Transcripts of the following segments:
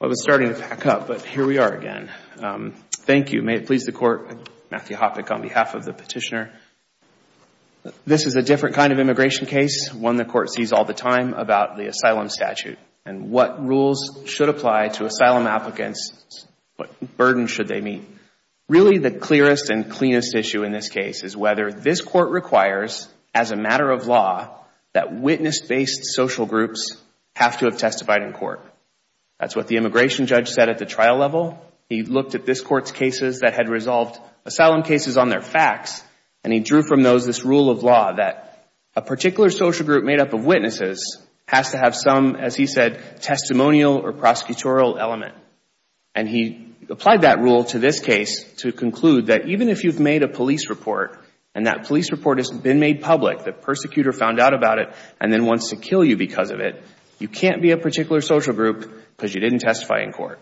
I was starting to pack up, but here we are again. Thank you. May it please the Court. Matthew Hoppeck on behalf of the petitioner. This is a different kind of immigration case, one the Court sees all the time, about the asylum statute and what rules should apply to asylum applicants, what burden should they meet. Really the clearest and cleanest issue in this case is whether this Court requires, as a matter of law, that witness-based social groups have to have testified in court. That's what the immigration judge said at the trial level. He looked at this Court's cases that had resolved asylum cases on their facts, and he drew from those this rule of law that a particular social group made up of witnesses has to have some, as he said, testimonial or prosecutorial element. And he applied that rule to this case to conclude that even if you've made a police report, and that police report has been made public, the persecutor found out about it and then be a particular social group because you didn't testify in court.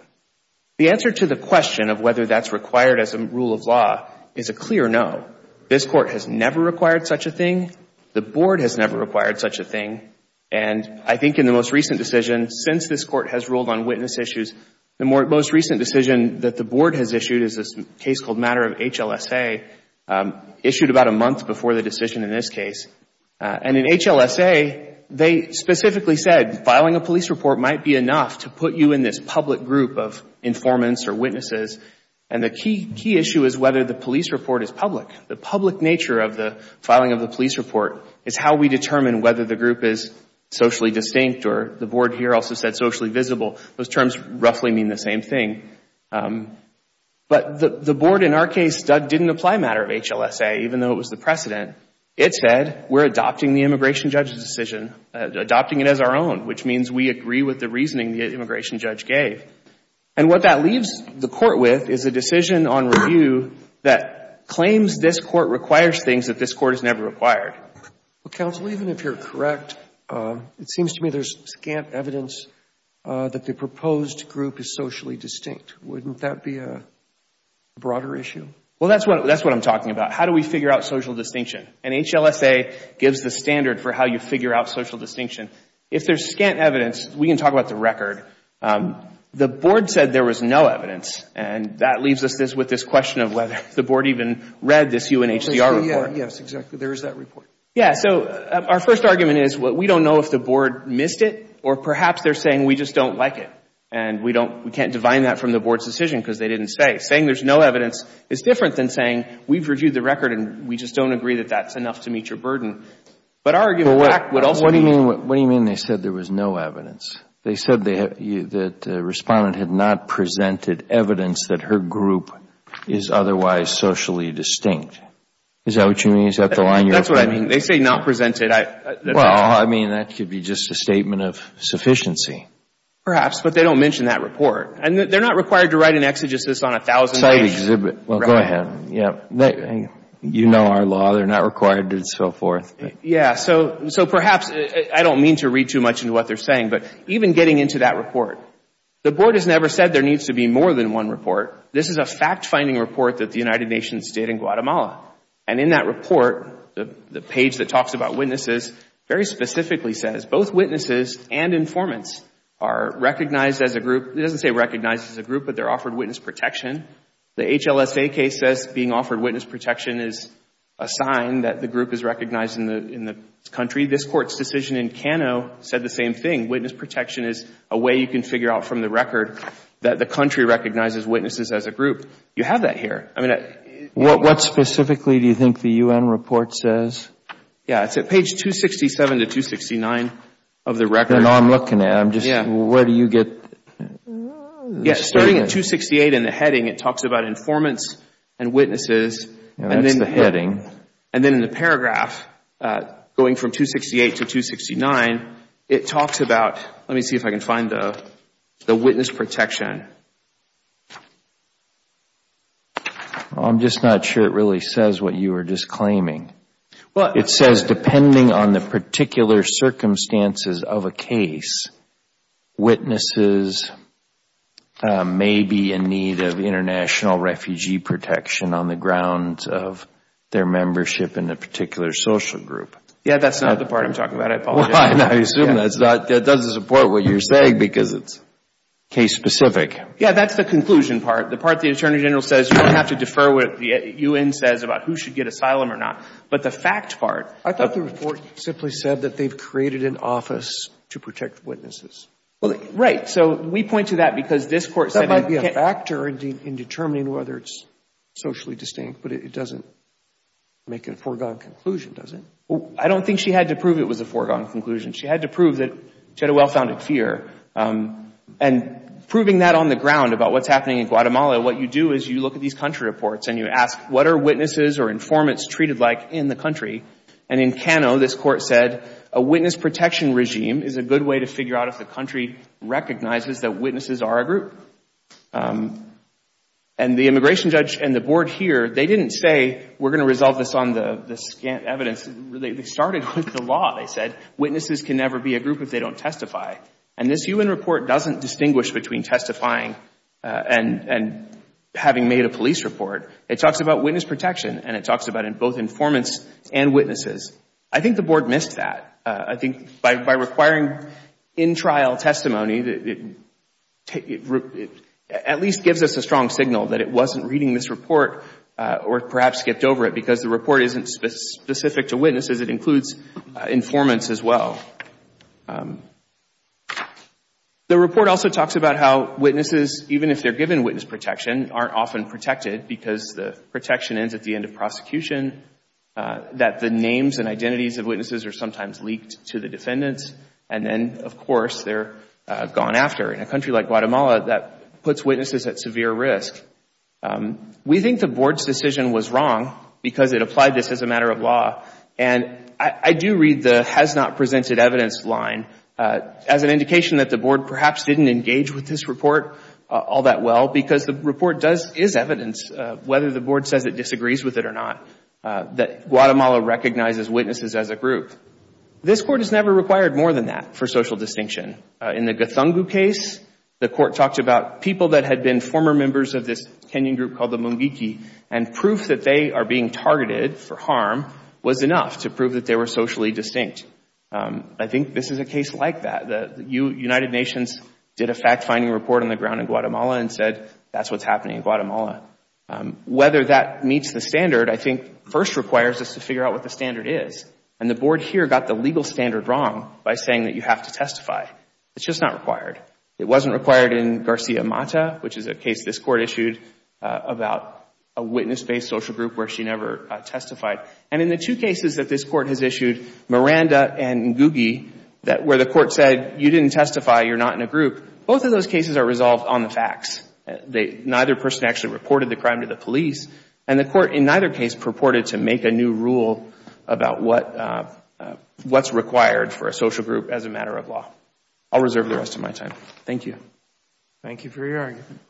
The answer to the question of whether that's required as a rule of law is a clear no. This Court has never required such a thing. The Board has never required such a thing. And I think in the most recent decision, since this Court has ruled on witness issues, the most recent decision that the Board has issued is a case called Matter of HLSA, issued about a month before the decision in this case. And in HLSA, they specifically said filing a police report might be enough to put you in this public group of informants or witnesses, and the key issue is whether the police report is public. The public nature of the filing of the police report is how we determine whether the group is socially distinct, or the Board here also said socially visible. Those terms roughly mean the same thing. But the Board, in our case, didn't apply Matter of HLSA, even though it was the precedent. It said we're adopting the immigration judge's decision, adopting it as our own, which means we agree with the reasoning the immigration judge gave. And what that leaves the Court with is a decision on review that claims this Court requires things that this Court has never required. Well, counsel, even if you're correct, it seems to me there's scant evidence that the proposed group is socially distinct. Wouldn't that be a broader issue? Well, that's what I'm talking about. How do we figure out social distinction? And HLSA gives the standard for how you figure out social distinction. If there's scant evidence, we can talk about the record. The Board said there was no evidence, and that leaves us with this question of whether the Board even read this UNHCR report. Yes, exactly. There is that report. Yes. So our first argument is we don't know if the Board missed it, or perhaps they're saying we just don't like it, and we can't divine that from the Board's decision because they didn't say. Saying there's no evidence is different than saying we've reviewed the record and we just don't agree that that's enough to meet your burden. But our argument back would also be What do you mean they said there was no evidence? They said the Respondent had not presented evidence that her group is otherwise socially distinct. Is that what you mean? Is that the line you're finding? That's what I mean. They say not presented. Well, I mean, that could be just a statement of sufficiency. Perhaps. But they don't mention that report. They're not required to write an exegesis on a thousand pages. Well, go ahead. You know our law. They're not required to and so forth. Yes. So perhaps I don't mean to read too much into what they're saying, but even getting into that report, the Board has never said there needs to be more than one report. This is a fact-finding report that the United Nations did in Guatemala. And in that report, the page that talks about witnesses very specifically says both witnesses and informants are recognized as a group. It doesn't say recognized as a group, but they're offered witness protection. The HLSA case says being offered witness protection is a sign that the group is recognized in the country. This Court's decision in Cano said the same thing. Witness protection is a way you can figure out from the record that the country recognizes witnesses as a group. You have that here. I mean, it What specifically do you think the U.N. report says? Yes. It's at page 267 to 269 of the record. I'm looking at it. I'm just, where do you get Yes. Starting at 268 in the heading, it talks about informants and witnesses, and then in the paragraph going from 268 to 269, it talks about, let me see if I can find the witness protection I'm just not sure it really says what you were just claiming. Well, It says depending on the particular circumstances of a case, witnesses may be in need of international refugee protection on the grounds of their membership in a particular social group. Yes, that's not the part I'm talking about. I apologize. I assume that doesn't support what you're saying because it's case specific. Yes, that's the conclusion part. The part the Attorney General says you don't have to defer what the U.N. says about who should get asylum or not. But the fact part I thought the report simply said that they've created an office to protect witnesses. Well, right. So we point to that because this court said That might be a factor in determining whether it's socially distinct, but it doesn't make a foregone conclusion, does it? I don't think she had to prove it was a foregone conclusion. She had to prove that she had a well-founded fear. And proving that on the ground about what's happening in Guatemala, what you do is you look at these country reports and you ask, what are witnesses or informants treated like in the country? And in Cano, this court said, a witness protection regime is a good way to figure out if the country recognizes that witnesses are a group. And the immigration judge and the board here, they didn't say we're going to resolve this on the scant evidence. They started with the law, they said. Witnesses can never be a group if they don't testify. And this UN report doesn't distinguish between testifying and having made a police report. It talks about witness protection and it talks about both informants and witnesses. I think the board missed that. I think by requiring in-trial testimony, it at least gives us a strong signal that it wasn't reading this report or perhaps skipped over it because the report isn't specific to witnesses. It includes informants as well. The report also talks about how witnesses, even if they're given witness protection, aren't often protected because the protection ends at the end of prosecution, that the names and identities of witnesses are sometimes leaked to the defendants, and then, of course, they're gone after. In a country like Guatemala, that puts witnesses at severe risk. We think the board's decision was wrong because it applied this as a matter of law. And I do read the has not presented evidence line as an indication that the board perhaps didn't engage with this report all that well because the report is evidence, whether the board says it disagrees with it or not, that Guatemala recognizes witnesses as a group. This Court has never required more than that for social distinction. In the Guthungu case, the Court talked about people that had been former members of this Kenyan group called the Mungiki, and proof that they are being targeted for harm was enough to prove that they were socially distinct. I think this is a case like that. The United Nations did a fact-finding report on the ground in Guatemala and said that's what's happening in Guatemala. Whether that meets the standard, I think, first requires us to figure out what the standard is. And the board here got the legal standard wrong by saying that you have to testify. It's just not required. It wasn't required in Garcia Mata, which is a case this Court issued about a witness-based social group where she never testified. And in the two cases that this Court has issued, Miranda and Ngugi, where the Court said you didn't testify, you're not in a group, both of those cases are resolved on the facts. Neither person actually reported the crime to the police, and the Court in neither case purported to make a new rule about what's required for a social group as a matter of law. I'll reserve the rest of my time. Thank you. Thank you for your argument.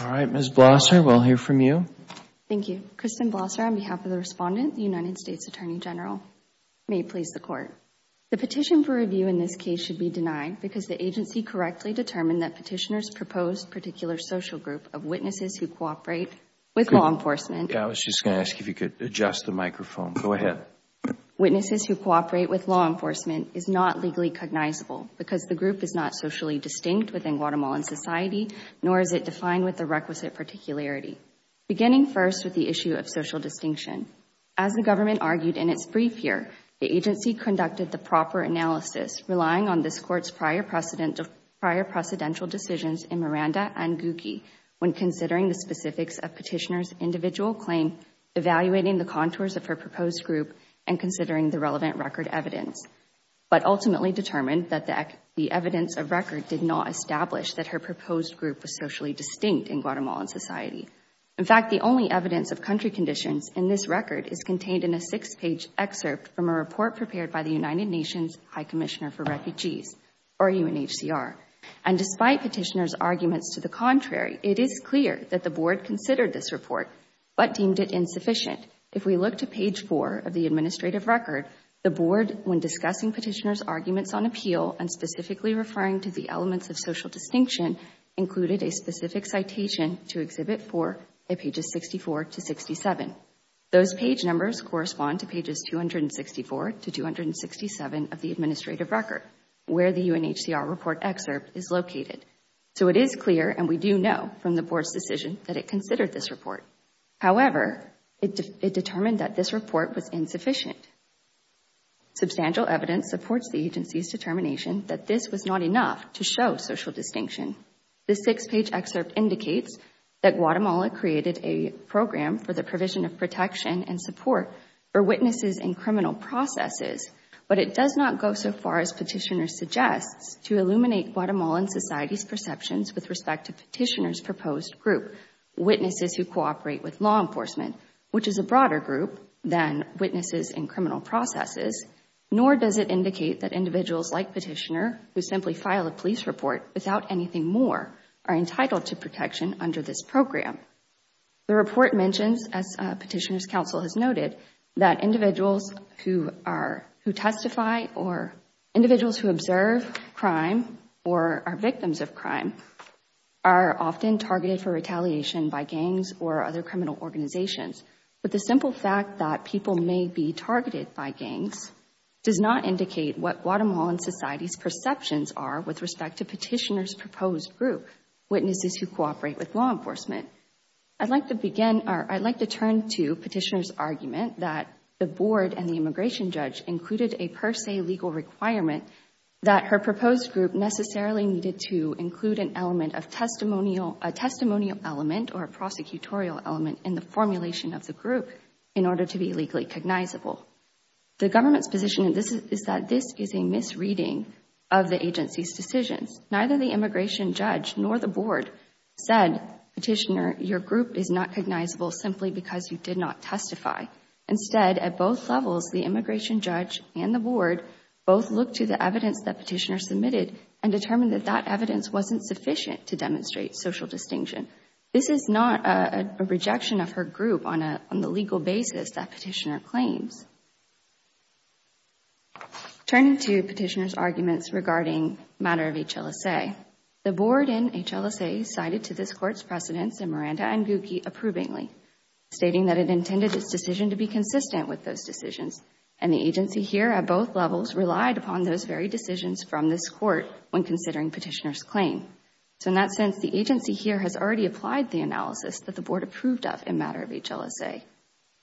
All right, Ms. Blosser, we'll hear from you. Thank you. Thank you. Kristen Blosser on behalf of the Respondent, the United States Attorney General. May it please the Court. The petition for review in this case should be denied because the agency correctly determined that petitioner's proposed particular social group of witnesses who cooperate with law enforcement I was just going to ask if you could adjust the microphone. Go ahead. Witnesses who cooperate with law enforcement is not legally cognizable because the group is not socially distinct within Guatemalan society, nor is it defined with the requisite particularity. Beginning first with the issue of social distinction. As the government argued in its brief here, the agency conducted the proper analysis relying on this Court's prior precedential decisions in Miranda and Gucci when considering the specifics of petitioner's individual claim, evaluating the contours of her proposed group, and considering the relevant record evidence, but ultimately determined that the evidence of record did not establish that her proposed group was socially distinct in Guatemalan society. In fact, the only evidence of country conditions in this record is contained in a six-page excerpt from a report prepared by the United Nations High Commissioner for Refugees, or UNHCR. Despite petitioner's arguments to the contrary, it is clear that the Board considered this report but deemed it insufficient. If we look to page four of the administrative record, the Board, when discussing petitioner's arguments on appeal and specifically referring to the elements of social distinction, included a specific citation to Exhibit 4 at pages 64 to 67. Those page numbers correspond to pages 264 to 267 of the administrative record, where the UNHCR report excerpt is located. So it is clear, and we do know from the Board's decision, that it considered this report. However, it determined that this report was insufficient. Substantial evidence supports the agency's determination that this was not enough to show social distinction. This six-page excerpt indicates that Guatemala created a program for the provision of protection and support for witnesses in criminal processes, but it does not go so far as petitioner suggests to illuminate Guatemalan society's perceptions with respect to petitioner's proposed group, witnesses who cooperate with law enforcement, which is a broader group than witnesses in criminal processes, nor does it indicate that individuals like petitioner who simply file a police report without anything more are entitled to protection under this program. The report mentions, as petitioner's counsel has noted, that individuals who testify or individuals who observe crime or are victims of crime are often targeted for retaliation by gangs or other criminal organizations. But the simple fact that people may be targeted by gangs does not indicate what Guatemalan society's perceptions are with respect to petitioner's proposed group, witnesses who cooperate with law enforcement. I'd like to turn to petitioner's argument that the Board and the immigration judge included a per se legal requirement that her proposed group necessarily needed to include a testimonial element or prosecutorial element in the formulation of the group in order to be legally cognizable. The government's position is that this is a misreading of the agency's decisions. Neither the immigration judge nor the Board said, petitioner, your group is not cognizable simply because you did not testify. Instead, at both levels, the immigration judge and the Board both looked to the evidence that petitioner submitted and determined that that evidence wasn't sufficient to demonstrate social distinction. This is not a rejection of her group on the legal basis that petitioner claims. Turning to petitioner's arguments regarding the matter of HLSA, the Board in HLSA cited to this Court's precedents in Miranda and Gucki approvingly, stating that it intended its decision to be consistent with those decisions and the agency here at both levels relied upon those very decisions from this Court when considering petitioner's claim. In that sense, the agency here has already applied the analysis that the Board approved of in matter of HLSA.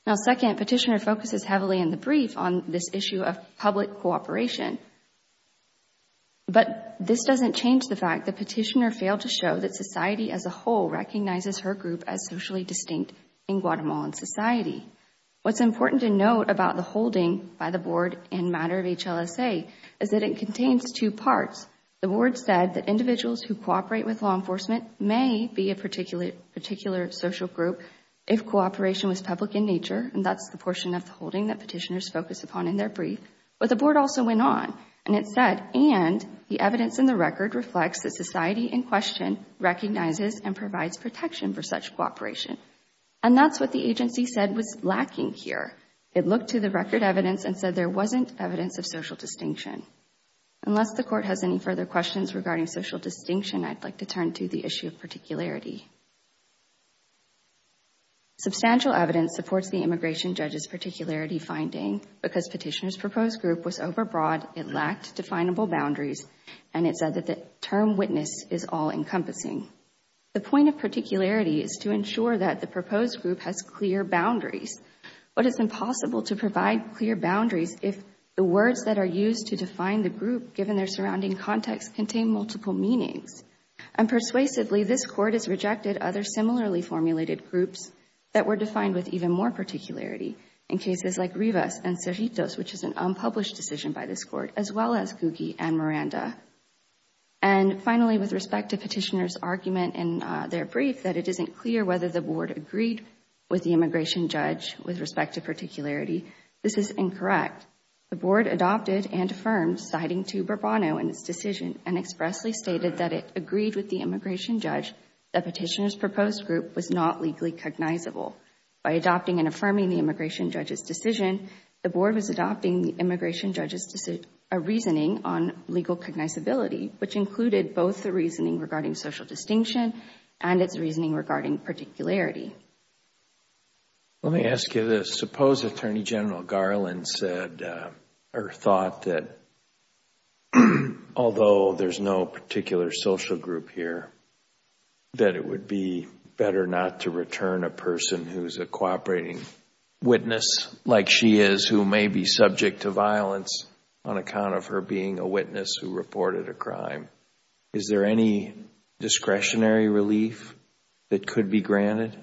Now, second, petitioner focuses heavily in the brief on this issue of public cooperation, but this doesn't change the fact that petitioner failed to show that society as a whole recognizes her group as socially distinct in Guatemalan society. What's important to note about the holding by the Board in matter of HLSA is that it contains two parts. The Board said that individuals who cooperate with law enforcement may be a particular social group if cooperation was public in nature, and that's the portion of the holding that petitioners focus upon in their brief, but the Board also went on and it said, and the evidence in the record reflects that society in question recognizes and provides protection for such cooperation, and that's what the agency said was lacking here. It looked to the record evidence and said there wasn't evidence of social distinction. Unless the court has any further questions regarding social distinction, I'd like to turn to the issue of particularity. Substantial evidence supports the immigration judge's particularity finding because petitioner's proposed group was overbroad, it lacked definable boundaries, and it said that the term witness is all-encompassing. The point of particularity is to ensure that the proposed group has clear boundaries, but it's impossible to provide clear boundaries if the words that are used to define the group given their surrounding context contain multiple meanings, and persuasively, this court has rejected other similarly formulated groups that were defined with even more particularity in cases like Rivas and Cerritos, which is an unpublished decision by this court, as well as Gugi and Miranda. And finally, with respect to petitioner's argument in their brief that it isn't clear whether the board agreed with the immigration judge with respect to particularity, this is incorrect. The board adopted and affirmed, citing to Bourbonneau in its decision, and expressly stated that it agreed with the immigration judge that petitioner's proposed group was not legally cognizable. By adopting and affirming the immigration judge's decision, the board was adopting the immigration judge's reasoning on legal cognizability, which included both the reasoning regarding social distinction and its reasoning regarding particularity. Let me ask you this. Suppose Attorney General Garland said or thought that although there's no particular social group here, that it would be better not to return a person who's a cooperating witness like she is, who may be subject to violence on account of her being a witness who reported a crime. Is there any discretionary relief that could be granted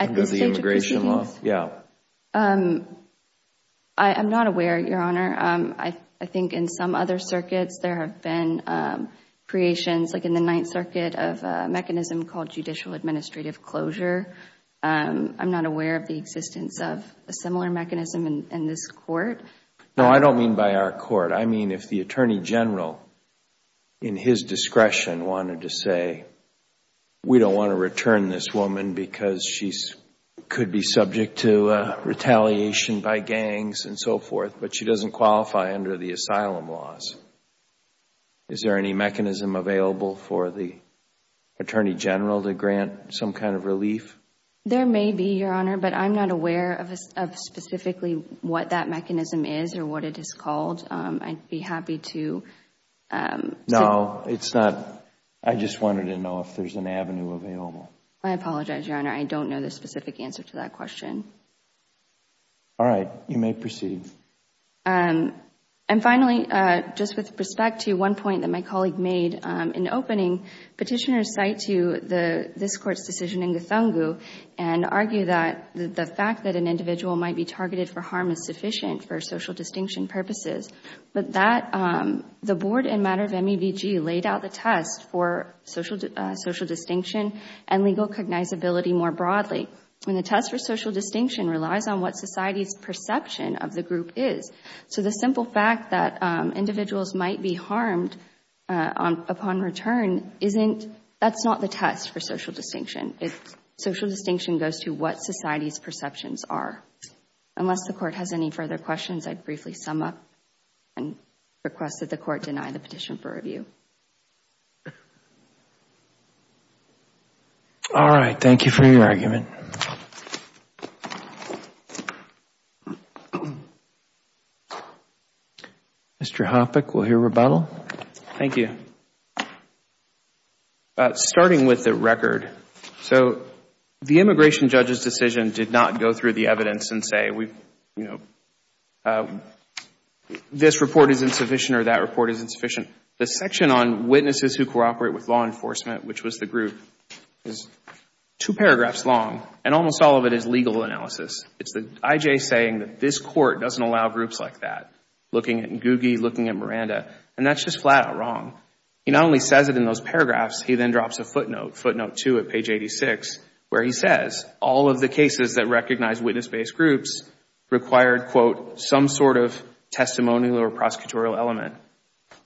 under the immigration law? I am not aware, Your Honor. I think in some other circuits there have been creations, like in the Ninth Circuit, of a mechanism called judicial administrative closure. I'm not aware of the existence of a similar mechanism in this court. No, I don't mean by our court. I mean if the Attorney General, in his discretion, wanted to say, we don't want to return this woman because she could be subject to retaliation by gangs and so forth, but she doesn't qualify under the asylum laws. Is there any mechanism available for the Attorney General to grant some kind of relief? There may be, Your Honor, but I'm not aware of specifically what that mechanism is or I'd be happy to. No, I just wanted to know if there's an avenue available. I apologize, Your Honor. I don't know the specific answer to that question. All right. You may proceed. And finally, just with respect to one point that my colleague made in opening, Petitioners cite to this Court's decision in Githungu and argue that the fact that an individual might be targeted for harm is sufficient for social distinction purposes. But that, the Board in matter of MEBG laid out the test for social distinction and legal cognizability more broadly. And the test for social distinction relies on what society's perception of the group is. So the simple fact that individuals might be harmed upon return isn't, that's not the test for social distinction. Social distinction goes to what society's perceptions are. Unless the Court has any further questions, I'd briefly sum up and request that the Court deny the petition for review. All right. Thank you for your argument. Mr. Hoppeck, we'll hear rebuttal. Thank you. Starting with the record. So the immigration judge's decision did not go through the evidence and say, you know, this report is insufficient or that report is insufficient. The section on witnesses who cooperate with law enforcement, which was the group, is two paragraphs long. And almost all of it is legal analysis. It's the IJ saying that this Court doesn't allow groups like that. Looking at Ngugi, looking at Miranda. And that's just flat out wrong. He not only says it in those paragraphs, he then drops a footnote, footnote two at page 86, where he says all of the cases that recognize witness-based groups required, quote, some sort of testimonial or prosecutorial element.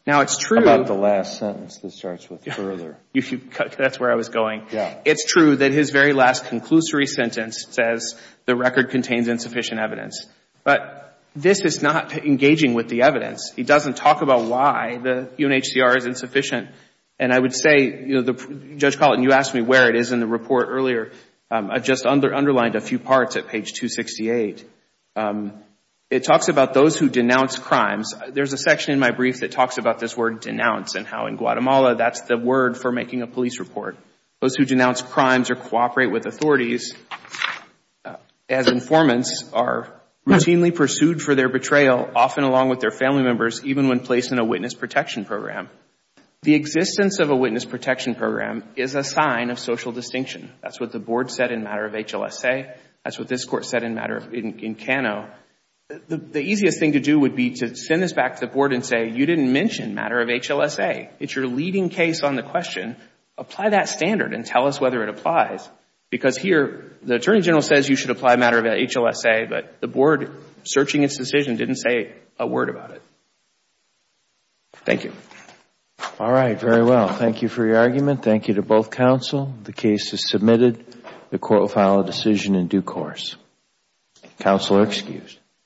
Now, it's true. How about the last sentence that starts with further? That's where I was going. Yeah. It's true that his very last conclusory sentence says the record contains insufficient evidence. But this is not engaging with the evidence. He doesn't talk about why the UNHCR is insufficient. And I would say, you know, Judge Colleton, you asked me where it is in the report earlier. I just underlined a few parts at page 268. It talks about those who denounce crimes. There's a section in my brief that talks about this word denounce and how in Guatemala that's the word for making a police report. Those who denounce crimes or cooperate with authorities as informants are routinely pursued for their betrayal, often along with their family members, even when placed in a witness protection program. The existence of a witness protection program is a sign of social distinction. That's what the Board said in matter of HLSA. That's what this Court said in matter in Kano. The easiest thing to do would be to send this back to the Board and say, you didn't mention matter of HLSA. It's your leading case on the question. Apply that standard and tell us whether it applies. The Board, searching its decision, didn't say a word about it. Thank you. All right. Very well. Thank you for your argument. Thank you to both counsel. The case is submitted. The Court will file a decision in due course. Counsel are excused.